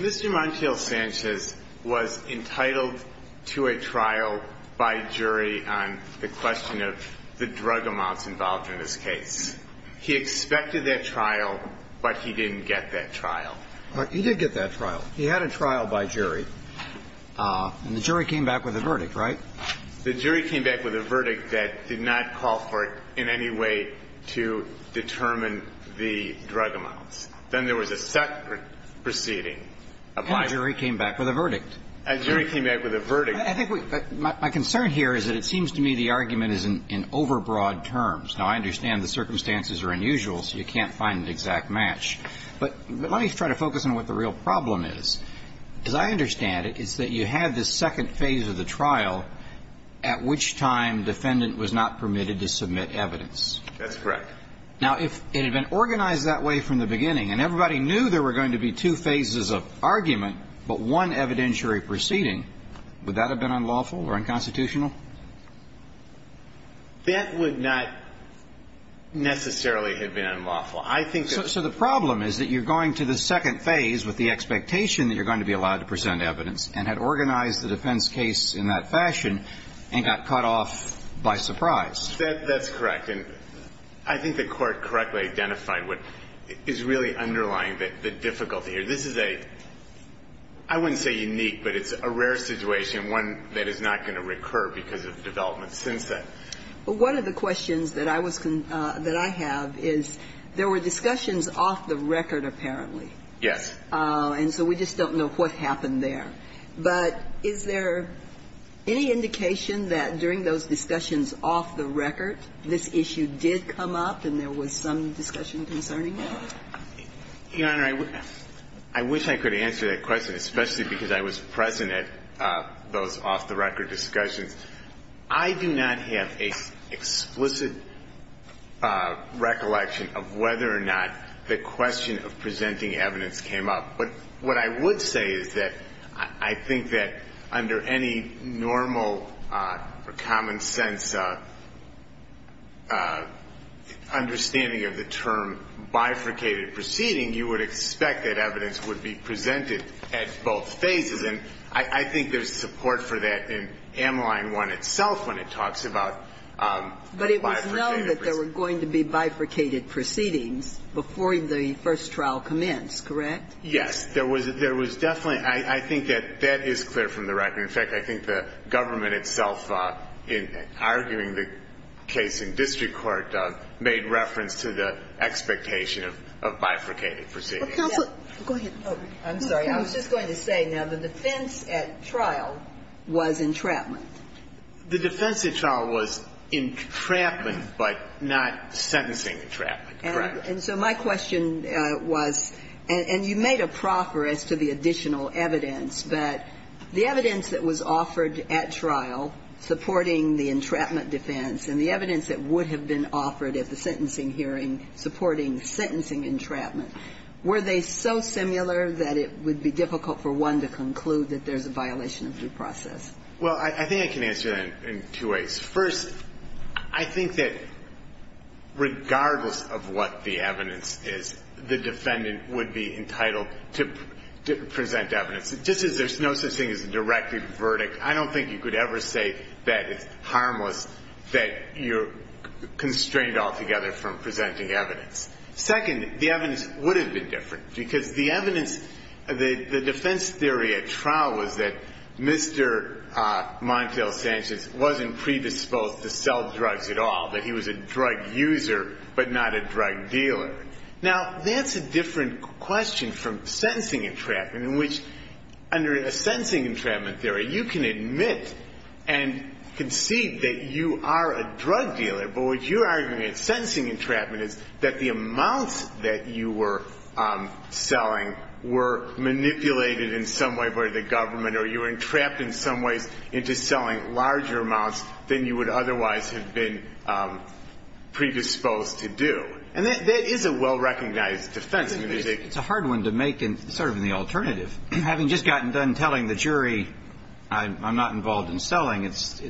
Mr. Montiel-Sanchez was entitled to a trial by jury on the question of the drug amounts involved in this case. He expected that trial, but he didn't get that trial. He did get that trial. He had a trial by jury, and the jury came back with a verdict, right? The jury came back with a verdict that did not call for, in any way, to determine the drug amounts. Then there was a separate proceeding. And a jury came back with a verdict. A jury came back with a verdict. I think we – my concern here is that it seems to me the argument is in overbroad terms. Now, I understand the circumstances are unusual, so you can't find an exact match. But let me try to focus on what the real problem is. As I understand it, it's that you had this second phase of the trial at which time defendant was not permitted to submit evidence. That's correct. Now, if it had been organized that way from the beginning, and everybody knew there were going to be two phases of argument, but one evidentiary proceeding, would that have been unlawful or unconstitutional? That would not necessarily have been unlawful. I think that – So the problem is that you're going to the second phase with the expectation that you're going to be allowed to present evidence, and had organized the defense case in that fashion and got cut off by surprise. That's correct. And I think the Court correctly identified what is really underlying the difficulty here. This is a – I wouldn't say unique, but it's a rare situation, one that is not going to recur because of developments since then. Well, one of the questions that I was – that I have is there were discussions off the record, apparently. Yes. And so we just don't know what happened there. But is there any indication that during those discussions off the record, this issue did come up and there was some discussion concerning it? Your Honor, I wish I could answer that question, especially because I was present at those off-the-record discussions. I do not have an explicit recollection of whether or not the question of presenting evidence came up. But what I would say is that I think that under any normal or common-sense understanding of the term bifurcated proceeding, you would expect that evidence would be presented at both phases. And I think there's support for that in M-Line 1 itself when it talks about bifurcated proceedings. But it was known that there were going to be bifurcated proceedings before the first trial commenced, correct? Yes. There was definitely – I think that that is clear from the record. In fact, I think the government itself, in arguing the case in district court, made reference to the expectation of bifurcated proceedings. Counsel, go ahead. I'm sorry. I was just going to say, now, the defense at trial was entrapment. The defense at trial was entrapment, but not sentencing entrapment, correct. And so my question was – and you made a proffer as to the additional evidence, but the evidence that was offered at trial supporting the entrapment defense and the evidence that would have been offered at the sentencing hearing supporting the sentencing entrapment, were they so similar that it would be difficult for one to conclude that there's a violation of due process? Well, I think I can answer that in two ways. First, I think that regardless of what the evidence is, the defendant would be entitled to present evidence, just as there's no such thing as a directed verdict. I don't think you could ever say that it's harmless, that you're constrained altogether from presenting evidence. Second, the evidence would have been different, because the evidence – the defense theory at trial was that Mr. Montiel Sanchez wasn't predisposed to sell drugs at all, that he was a drug user, but not a drug dealer. Now, that's a different question from sentencing entrapment, in which, under a sentencing entrapment theory, you can admit and concede that you are a drug dealer, but what you're arguing in sentencing entrapment is that the amounts that you were selling were manipulated in some way by the government, or you were entrapped in some ways into selling larger amounts than you would otherwise have been predisposed to do. And that is a well-recognized defense. It's a hard one to make, sort of in the alternative. Having just gotten done telling the jury, I'm not involved in selling, it's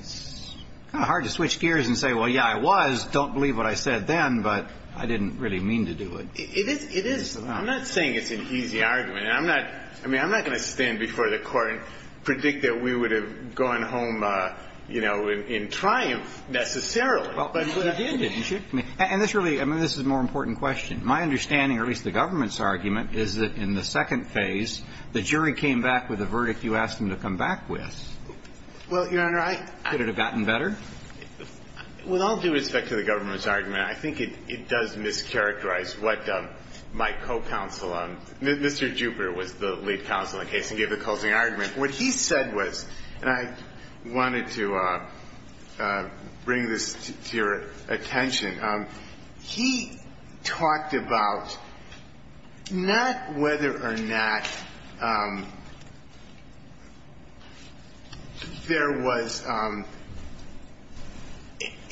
hard to switch gears and say, well, yeah, I was, don't believe what I said then, but I didn't really mean to do it. It is – it is. I'm not saying it's an easy argument. I'm not – I mean, I'm not going to stand before the Court and predict that we would have gone home, you know, in triumph, necessarily, but you did, didn't you? And this really – I mean, this is a more important question. My understanding, or at least the government's argument, is that in the second phase, the jury came back with a verdict you asked them to come back with. Well, Your Honor, I – Could it have gotten better? With all due respect to the government's argument, I think it does mischaracterize what my co-counsel, Mr. Jupiter, was the lead counsel in the case and gave the closing argument. What he said was – and I wanted to bring this to your attention. He talked about not whether or not there was –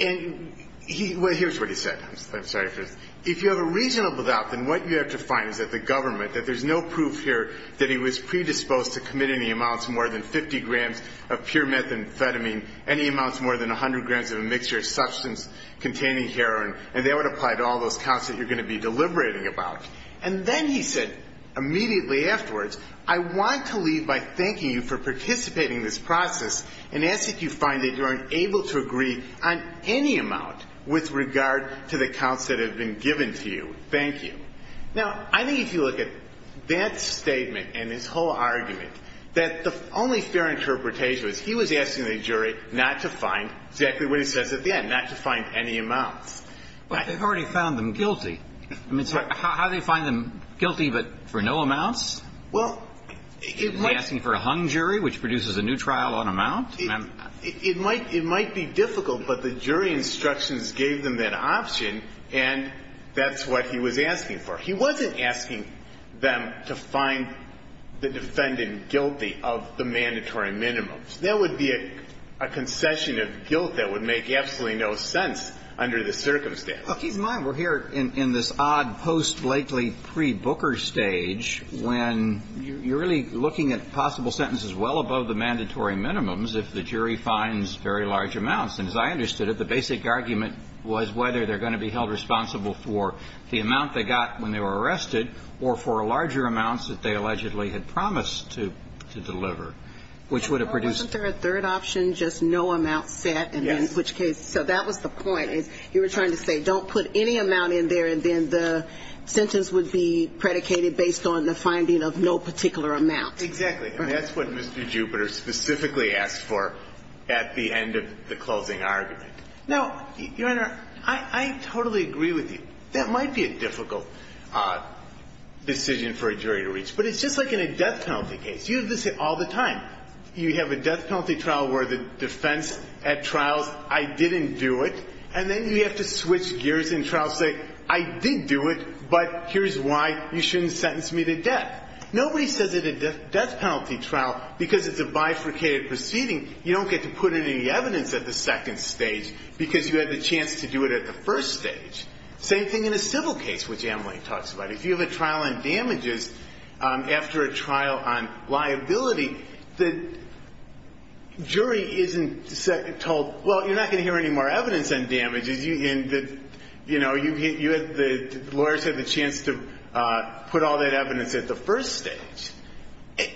and he – well, here's what he said. I'm sorry for this. If you have a reasonable doubt, then what you have to find is that the government, that there's no proof here that he was predisposed to commit any amounts more than 50 grams of pure methamphetamine, any amounts more than 100 grams of a mixture of substance containing heroin, and that would apply to all those counts that you're going to be deliberating about. And then he said immediately afterwards, I want to leave by thanking you for participating in this process and ask that you find that you are able to agree on any amount with regard to the counts that have been given to you. Thank you. Now, I think if you look at that statement and his whole argument, that the only fair interpretation was he was asking the jury not to find exactly what he says at the end, not to find any amounts. But they've already found them guilty. I mean, how do you find them guilty but for no amounts? Well, it might – Are they asking for a hung jury, which produces a new trial on amount? It might be difficult, but the jury instructions gave them that option, and that's what he was asking for. He wasn't asking them to find the defendant guilty of the mandatory minimums. That would be a concession of guilt that would make absolutely no sense under the circumstances. Well, keep in mind, we're here in this odd post-Blakely, pre-Booker stage when you're really looking at possible sentences well above the mandatory minimums if the jury finds very large amounts. And as I understood it, the basic argument was whether they're going to be held responsible for the amount they got when they were arrested or for larger amounts Isn't there a third option, just no amount set, in which case – Yes. So that was the point, is you were trying to say, don't put any amount in there and then the sentence would be predicated based on the finding of no particular amount. Exactly. And that's what Mr. Jupiter specifically asked for at the end of the closing argument. Now, Your Honor, I totally agree with you. That might be a difficult decision for a jury to reach. But it's just like in a death penalty case. You have this all the time. You have a death penalty trial where the defense at trial's, I didn't do it. And then you have to switch gears in trial, say, I did do it, but here's why you shouldn't sentence me to death. Nobody says at a death penalty trial, because it's a bifurcated proceeding, you don't get to put in any evidence at the second stage because you had the chance to do it at the first stage. Same thing in a civil case, which Emily talks about. If you have a trial on damages after a trial on liability, the jury isn't told, well, you're not going to hear any more evidence on damages, and the lawyers have the chance to put all that evidence at the first stage. I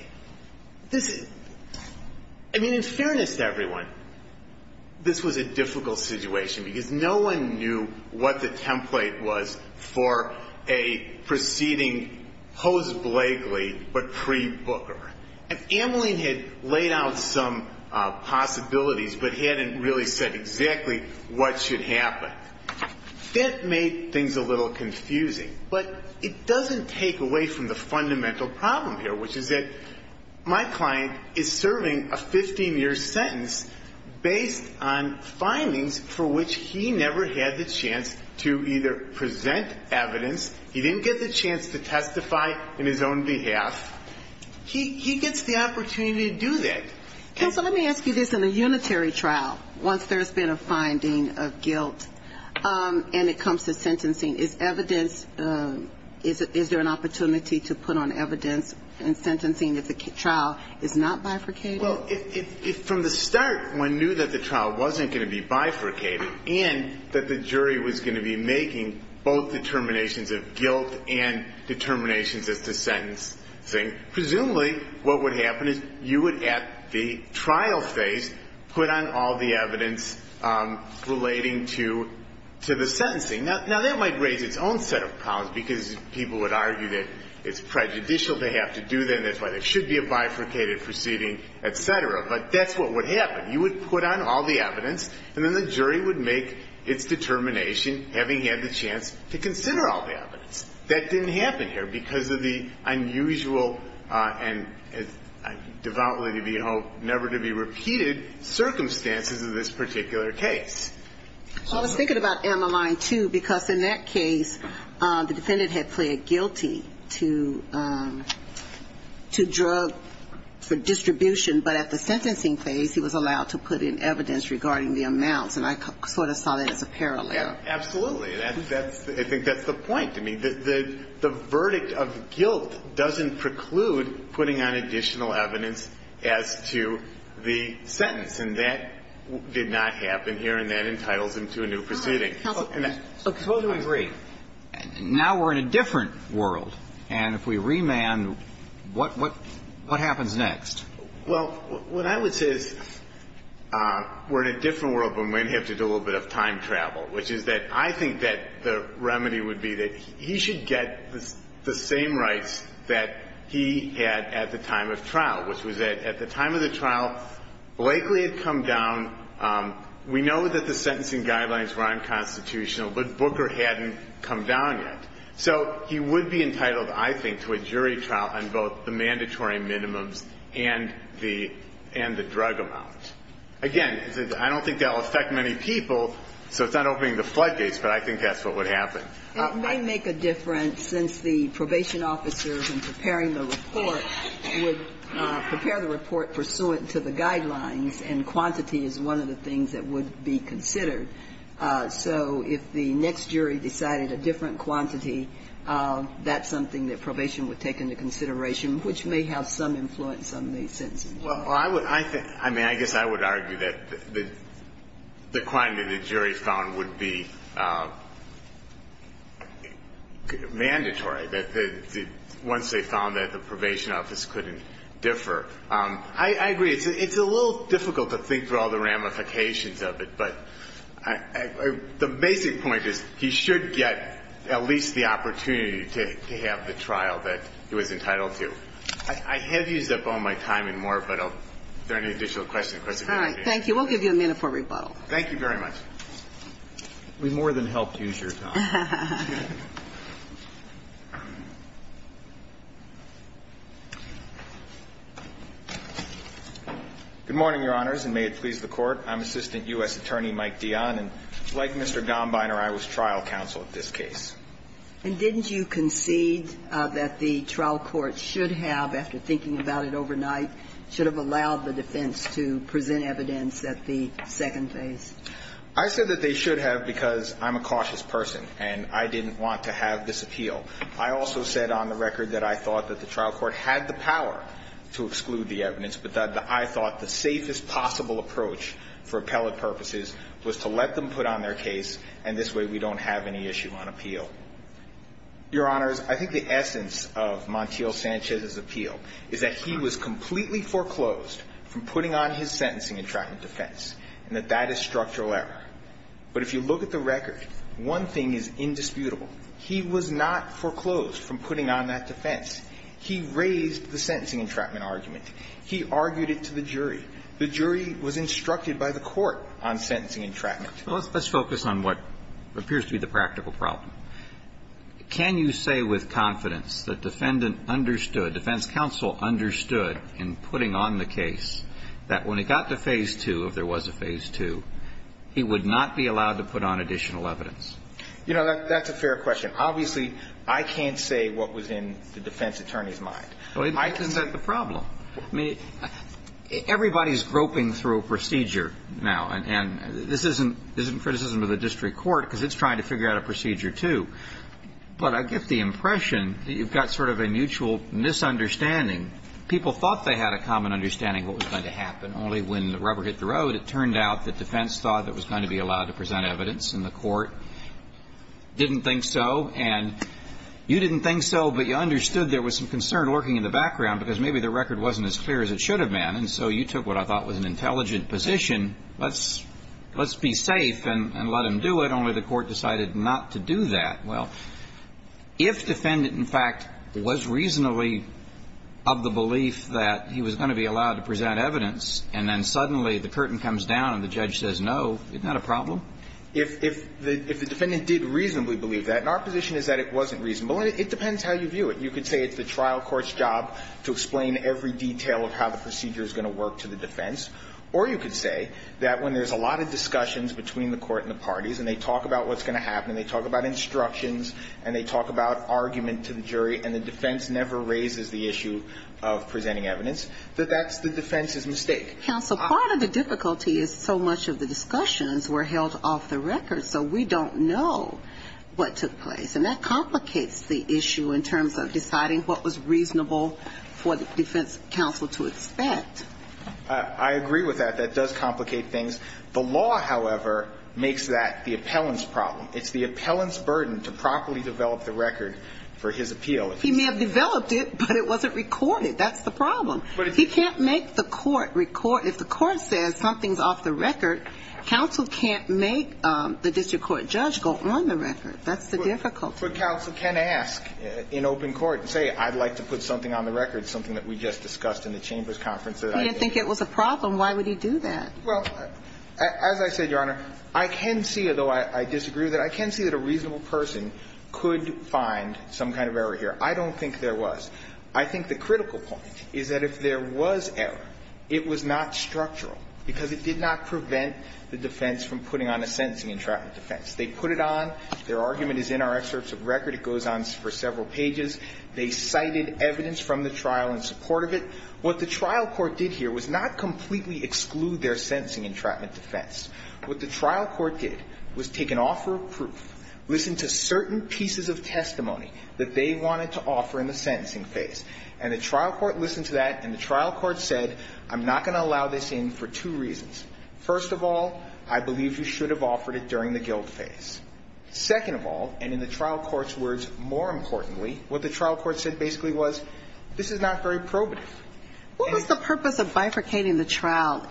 mean, in fairness to everyone, this was a difficult situation because no one knew what the template was for a proceeding post-Blakely, but pre-Booker. And Ameline had laid out some possibilities, but hadn't really said exactly what should happen. That made things a little confusing. But it doesn't take away from the fundamental problem here, which is that my client is serving a 15-year sentence based on findings for which he never had the chance to either present evidence, he didn't get the chance to testify in his own behalf, he gets the opportunity to do that. So let me ask you this. In a unitary trial, once there's been a finding of guilt and it comes to sentencing, is evidence, is there an opportunity to put on evidence in sentencing if the trial is not bifurcated? Well, if from the start one knew that the trial wasn't going to be bifurcated and that the jury was going to be making both determinations of guilt and determinations as to sentencing, presumably what would happen is you would, at the trial phase, put on all the evidence relating to the sentencing. Now, that might raise its own set of problems because people would argue that it's prejudicial to have to do that and that's why there should be a bifurcated proceeding, et cetera. But that's what would happen. You would put on all the evidence and then the jury would make its determination having had the chance to consider all the evidence. That didn't happen here because of the unusual and, devoutly to behold, never-to-be-repeated circumstances of this particular case. I was thinking about Emmeline, too, because in that case, the defendant had pleaded guilty to drug for distribution, but at the sentencing phase, he was allowed to put in evidence regarding the amounts and I sort of saw that as a parallel. Absolutely. I think that's the point. I mean, the verdict of guilt doesn't preclude putting on additional evidence as to the sentence and that did not happen here and that entitles him to a new proceeding. Counsel, please. Suppose we agree. Now we're in a different world and if we remand, what happens next? Well, what I would say is we're in a different world, but we're going to have to do a little bit of time travel, which is that I think that the remedy would be that he should get the same rights that he had at the time of trial, which was that at the time of the trial, Blakely had come down. We know that the sentencing guidelines were unconstitutional, but Booker hadn't come down yet. So he would be entitled, I think, to a jury trial on both the mandatory minimums and the drug amount. Again, I don't think that will affect many people, so it's not opening the flood gates, but I think that's what would happen. It may make a difference since the probation officer in preparing the report would prepare the report pursuant to the guidelines and quantity is one of the things that would be considered. So if the next jury decided a different quantity, that's something that probation would take into consideration, which may have some influence on the sentencing. Well, I would argue that the quantity the jury found would be mandatory, that once they found that, the probation officer couldn't differ. I agree. It's a little difficult to think through all the ramifications of it, but the basic point is he should get at least the opportunity to have the trial that he was entitled to. I have used up all my time and more, but are there any additional questions? All right. Thank you. We'll give you a minute for rebuttal. Thank you very much. We more than helped use your time. Good morning, Your Honors, and may it please the Court. I'm Assistant U.S. Attorney Mike Dionne, and like Mr. Gombiner, I was trial counsel at this case. And didn't you concede that the trial court should have, after thinking about it overnight, should have allowed the defense to present evidence at the second phase? I said that they should have because I'm a cautious person. And I didn't want to have this appeal. I also said on the record that I thought that the trial court had the power to exclude the evidence, but that I thought the safest possible approach for appellate purposes was to let them put on their case, and this way we don't have any issue on appeal. Your Honors, I think the essence of Montiel-Sanchez's appeal is that he was completely foreclosed from putting on his sentencing in trial and defense, and that that is structural error. But if you look at the record, one thing is indisputable. He was not foreclosed from putting on that defense. He raised the sentencing entrapment argument. He argued it to the jury. The jury was instructed by the court on sentencing entrapment. Well, let's focus on what appears to be the practical problem. Can you say with confidence that defendant understood, defense counsel understood in putting on the case that when he got to phase two, if there was a phase two, he would not be allowed to put on additional evidence? You know, that's a fair question. Obviously, I can't say what was in the defense attorney's mind. Well, isn't that the problem? I mean, everybody's groping through a procedure now, and this isn't criticism of the district court because it's trying to figure out a procedure, too. But I get the impression that you've got sort of a mutual misunderstanding. People thought they had a common understanding of what was going to happen. And only when the rubber hit the road, it turned out that defense thought that was going to be allowed to present evidence, and the court didn't think so. And you didn't think so, but you understood there was some concern lurking in the background because maybe the record wasn't as clear as it should have been. And so you took what I thought was an intelligent position. Let's be safe and let him do it. Only the court decided not to do that. Well, if defendant, in fact, was reasonably of the belief that he was going to be allowed to present evidence, and then suddenly the curtain comes down and the judge says, no, isn't that a problem? If the defendant did reasonably believe that, and our position is that it wasn't reasonable, it depends how you view it. You could say it's the trial court's job to explain every detail of how the procedure is going to work to the defense, or you could say that when there's a lot of discussions between the court and the parties, and they talk about what's going to happen, and they talk about instructions, and they talk about argument to the jury, and the defense never raises the issue of presenting evidence, that that's the defense's mistake. Counsel, part of the difficulty is so much of the discussions were held off the record, so we don't know what took place. And that complicates the issue in terms of deciding what was reasonable for the defense counsel to expect. I agree with that. That does complicate things. The law, however, makes that the appellant's problem. It's the appellant's burden to properly develop the record for his appeal. He may have developed it, but it wasn't recorded. That's the problem. But if he can't make the court record, if the court says something's off the record, counsel can't make the district court judge go on the record. That's the difficulty. But counsel can ask in open court and say, I'd like to put something on the record, something that we just discussed in the chamber's conference. He didn't think it was a problem. Why would he do that? Well, as I said, Your Honor, I can see, although I disagree with that, I can see that a reasonable person could find some kind of error here. I don't think there was. I think the critical point is that if there was error, it was not structural, because it did not prevent the defense from putting on a sentencing entrapment defense. They put it on. Their argument is in our excerpts of record. It goes on for several pages. They cited evidence from the trial in support of it. What the trial court did here was not completely exclude their sentencing entrapment defense. What the trial court did was take an offer of proof, listen to certain pieces of testimony that they wanted to offer in the sentencing phase, and the trial court listened to that, and the trial court said, I'm not going to allow this in for two reasons. First of all, I believe you should have offered it during the guilt phase. Second of all, and in the trial court's words, more importantly, what the trial court said basically was, this is not very probative. And the purpose of bifurcating the trial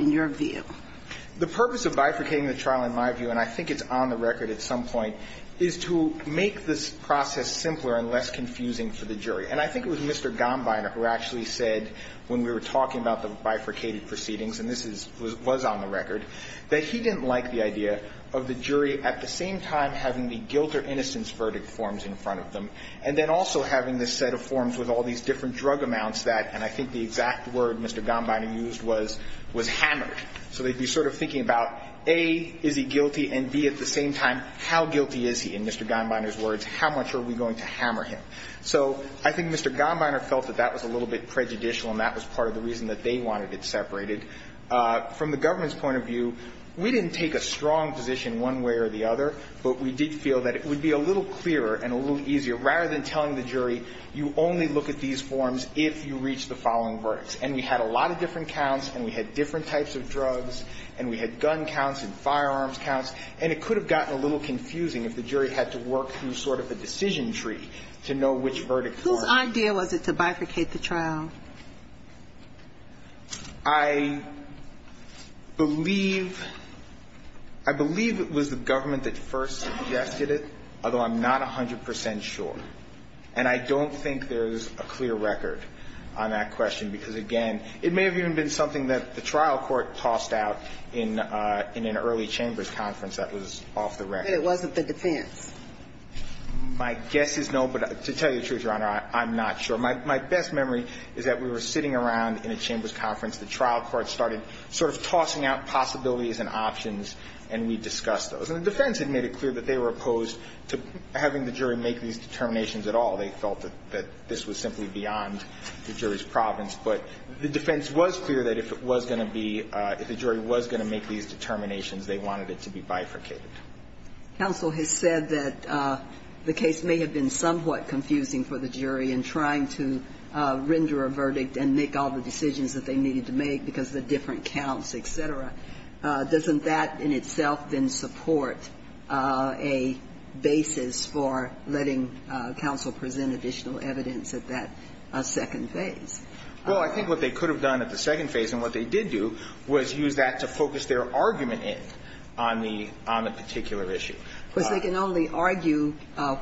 in my view, and I think it's on the record at some point, is to make this process simpler and less confusing for the jury. And I think it was Mr. Gombiner who actually said, when we were talking about the bifurcated proceedings, and this was on the record, that he didn't like the idea of the jury at the same time having the guilt or innocence verdict forms in front of them, and then also having this set of forms with all these different drug amounts that, and I think the exact word Mr. Gombiner used was, was hammered. So they'd be sort of thinking about, A, is he guilty, and B, at the same time, how guilty is he? In Mr. Gombiner's words, how much are we going to hammer him? So I think Mr. Gombiner felt that that was a little bit prejudicial, and that was part of the reason that they wanted it separated. From the government's point of view, we didn't take a strong position one way or the other, but we did feel that it would be a little clearer and a little easier, rather than telling the jury, you only look at these forms if you reach the following verdicts. And we had a lot of different counts, and we had different types of drugs, and we had gun counts and firearms counts, and it could have gotten a little confusing if the jury had to work through sort of a decision tree to know which verdict form. Whose idea was it to bifurcate the trial? I believe, I believe it was the government that first suggested it, although I'm not 100 percent sure. And I don't think there's a clear record on that question, because, again, it may have even been something that the trial court tossed out in an early Chambers conference that was off the record. It wasn't the defense. My guess is no, but to tell you the truth, Your Honor, I'm not sure. My best memory is that we were sitting around in a Chambers conference. The trial court started sort of tossing out possibilities and options, and we discussed those. And the defense had made it clear that they were opposed to having the jury make these determinations at all. They felt that this was simply beyond the jury's province. But the defense was clear that if it was going to be – if the jury was going to make these determinations, they wanted it to be bifurcated. Counsel has said that the case may have been somewhat confusing for the jury in trying to render a verdict and make all the decisions that they needed to make because of the different counts, et cetera. Doesn't that in itself then support a basis for letting counsel present additional evidence at that second phase? Well, I think what they could have done at the second phase, and what they did do, was use that to focus their argument in on the – on the particular issue. Because they can only argue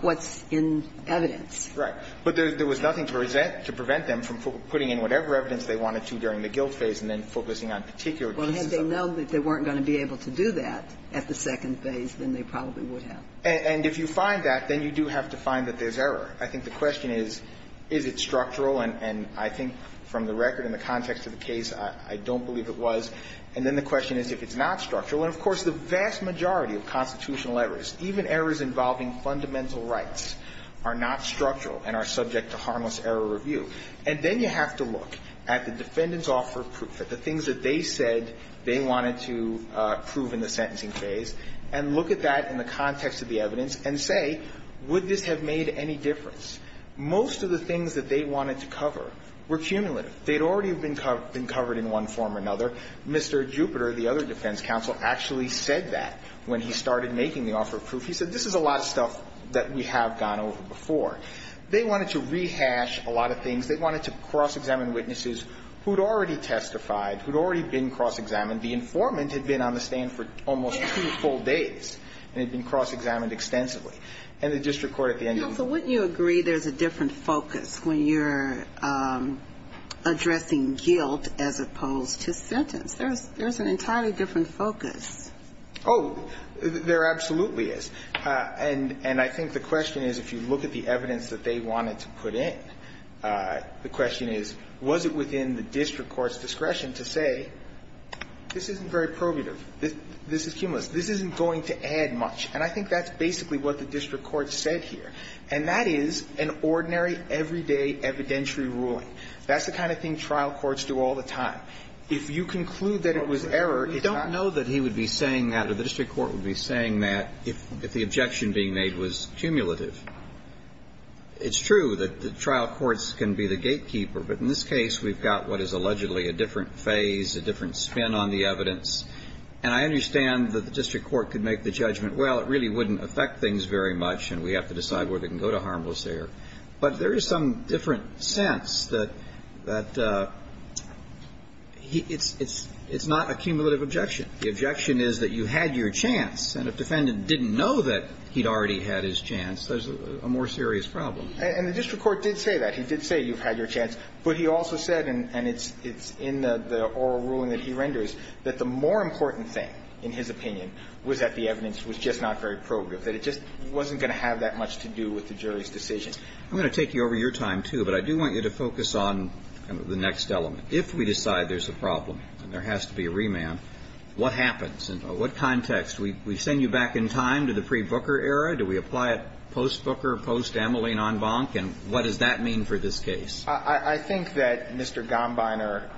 what's in evidence. Right. But there was nothing to present – to prevent them from putting in whatever evidence they wanted to during the guilt phase and then focusing on particular Well, had they known that they weren't going to be able to do that at the second phase, then they probably would have. And if you find that, then you do have to find that there's error. I think the question is, is it structural? And I think from the record in the context of the case, I don't believe it was. And then the question is if it's not structural. And, of course, the vast majority of constitutional errors, even errors involving fundamental rights, are not structural and are subject to harmless error review. And then you have to look at the defendant's offer of proof, at the things that they said they wanted to prove in the sentencing phase, and look at that in the context of the evidence and say, would this have made any difference? Most of the things that they wanted to cover were cumulative. They'd already been covered in one form or another. Mr. Jupiter, the other defense counsel, actually said that when he started making the offer of proof. He said, this is a lot of stuff that we have gone over before. They wanted to rehash a lot of things. They wanted to cross-examine witnesses who'd already testified, who'd already been cross-examined. The informant had been on the stand for almost two full days and had been cross-examined extensively. And the district court at the end of the day… Now, so wouldn't you agree there's a different focus when you're addressing guilt as opposed to sentence? There's an entirely different focus. Oh, there absolutely is. And I think the question is, if you look at the evidence that they wanted to put in, the question is, was it within the district court's discretion to say, this isn't very probative, this is cumulus, this isn't going to add much? And I think that's basically what the district court said here. And that is an ordinary, everyday evidentiary ruling. That's the kind of thing trial courts do all the time. If you conclude that it was error, it's not… I know that he would be saying that, or the district court would be saying that, if the objection being made was cumulative. It's true that the trial courts can be the gatekeeper, but in this case, we've got what is allegedly a different phase, a different spin on the evidence. And I understand that the district court could make the judgment, well, it really wouldn't affect things very much, and we have to decide where they can go to harmless error. But there is some different sense that… It's not a cumulative objection. The objection is that you had your chance, and if the defendant didn't know that he'd already had his chance, there's a more serious problem. And the district court did say that. He did say you've had your chance. But he also said, and it's in the oral ruling that he renders, that the more important thing, in his opinion, was that the evidence was just not very probative, that it just wasn't going to have that much to do with the jury's decision. I'm going to take you over your time, too, but I do want you to focus on the next element. If we decide there's a problem and there has to be a remand, what happens? In what context? We send you back in time to the pre-Booker era? Do we apply it post-Booker, post-Amelie Nonbonk? And what does that mean for this case? I think that Mr. Gombiner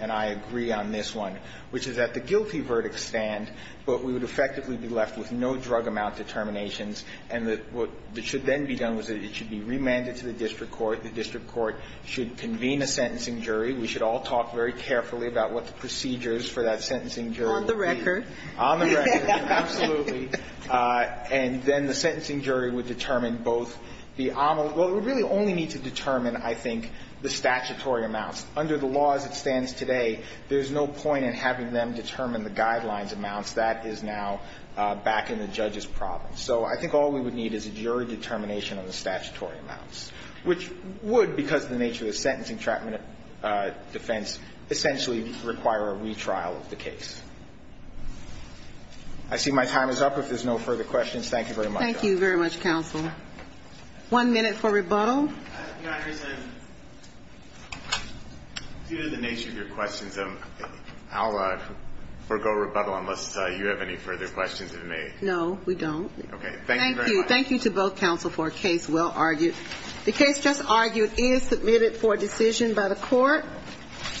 and I agree on this one, which is that the guilty verdict stand, but we would effectively be left with no drug amount determinations. And what should then be done is that it should be remanded to the district court. The district court should convene a sentencing jury. We should all talk very carefully about what the procedures for that sentencing jury would be. On the record. On the record, absolutely. And then the sentencing jury would determine both the AMEL – well, we really only need to determine, I think, the statutory amounts. Under the law as it stands today, there's no point in having them determine the guidelines amounts. That is now back in the judge's province. So I think all we would need is a jury determination on the statutory amounts, which would, because of the nature of the sentencing, trapment, defense, essentially require a retrial of the case. I see my time is up. If there's no further questions, thank you very much. Thank you very much, counsel. One minute for rebuttal. Your Honor, it's due to the nature of your questions, I'll forgo rebuttal unless you have any further questions of me. No, we don't. Okay, thank you very much. Thank you. Thank you to both counsel for a case well argued. The case just argued is submitted for decision by the court.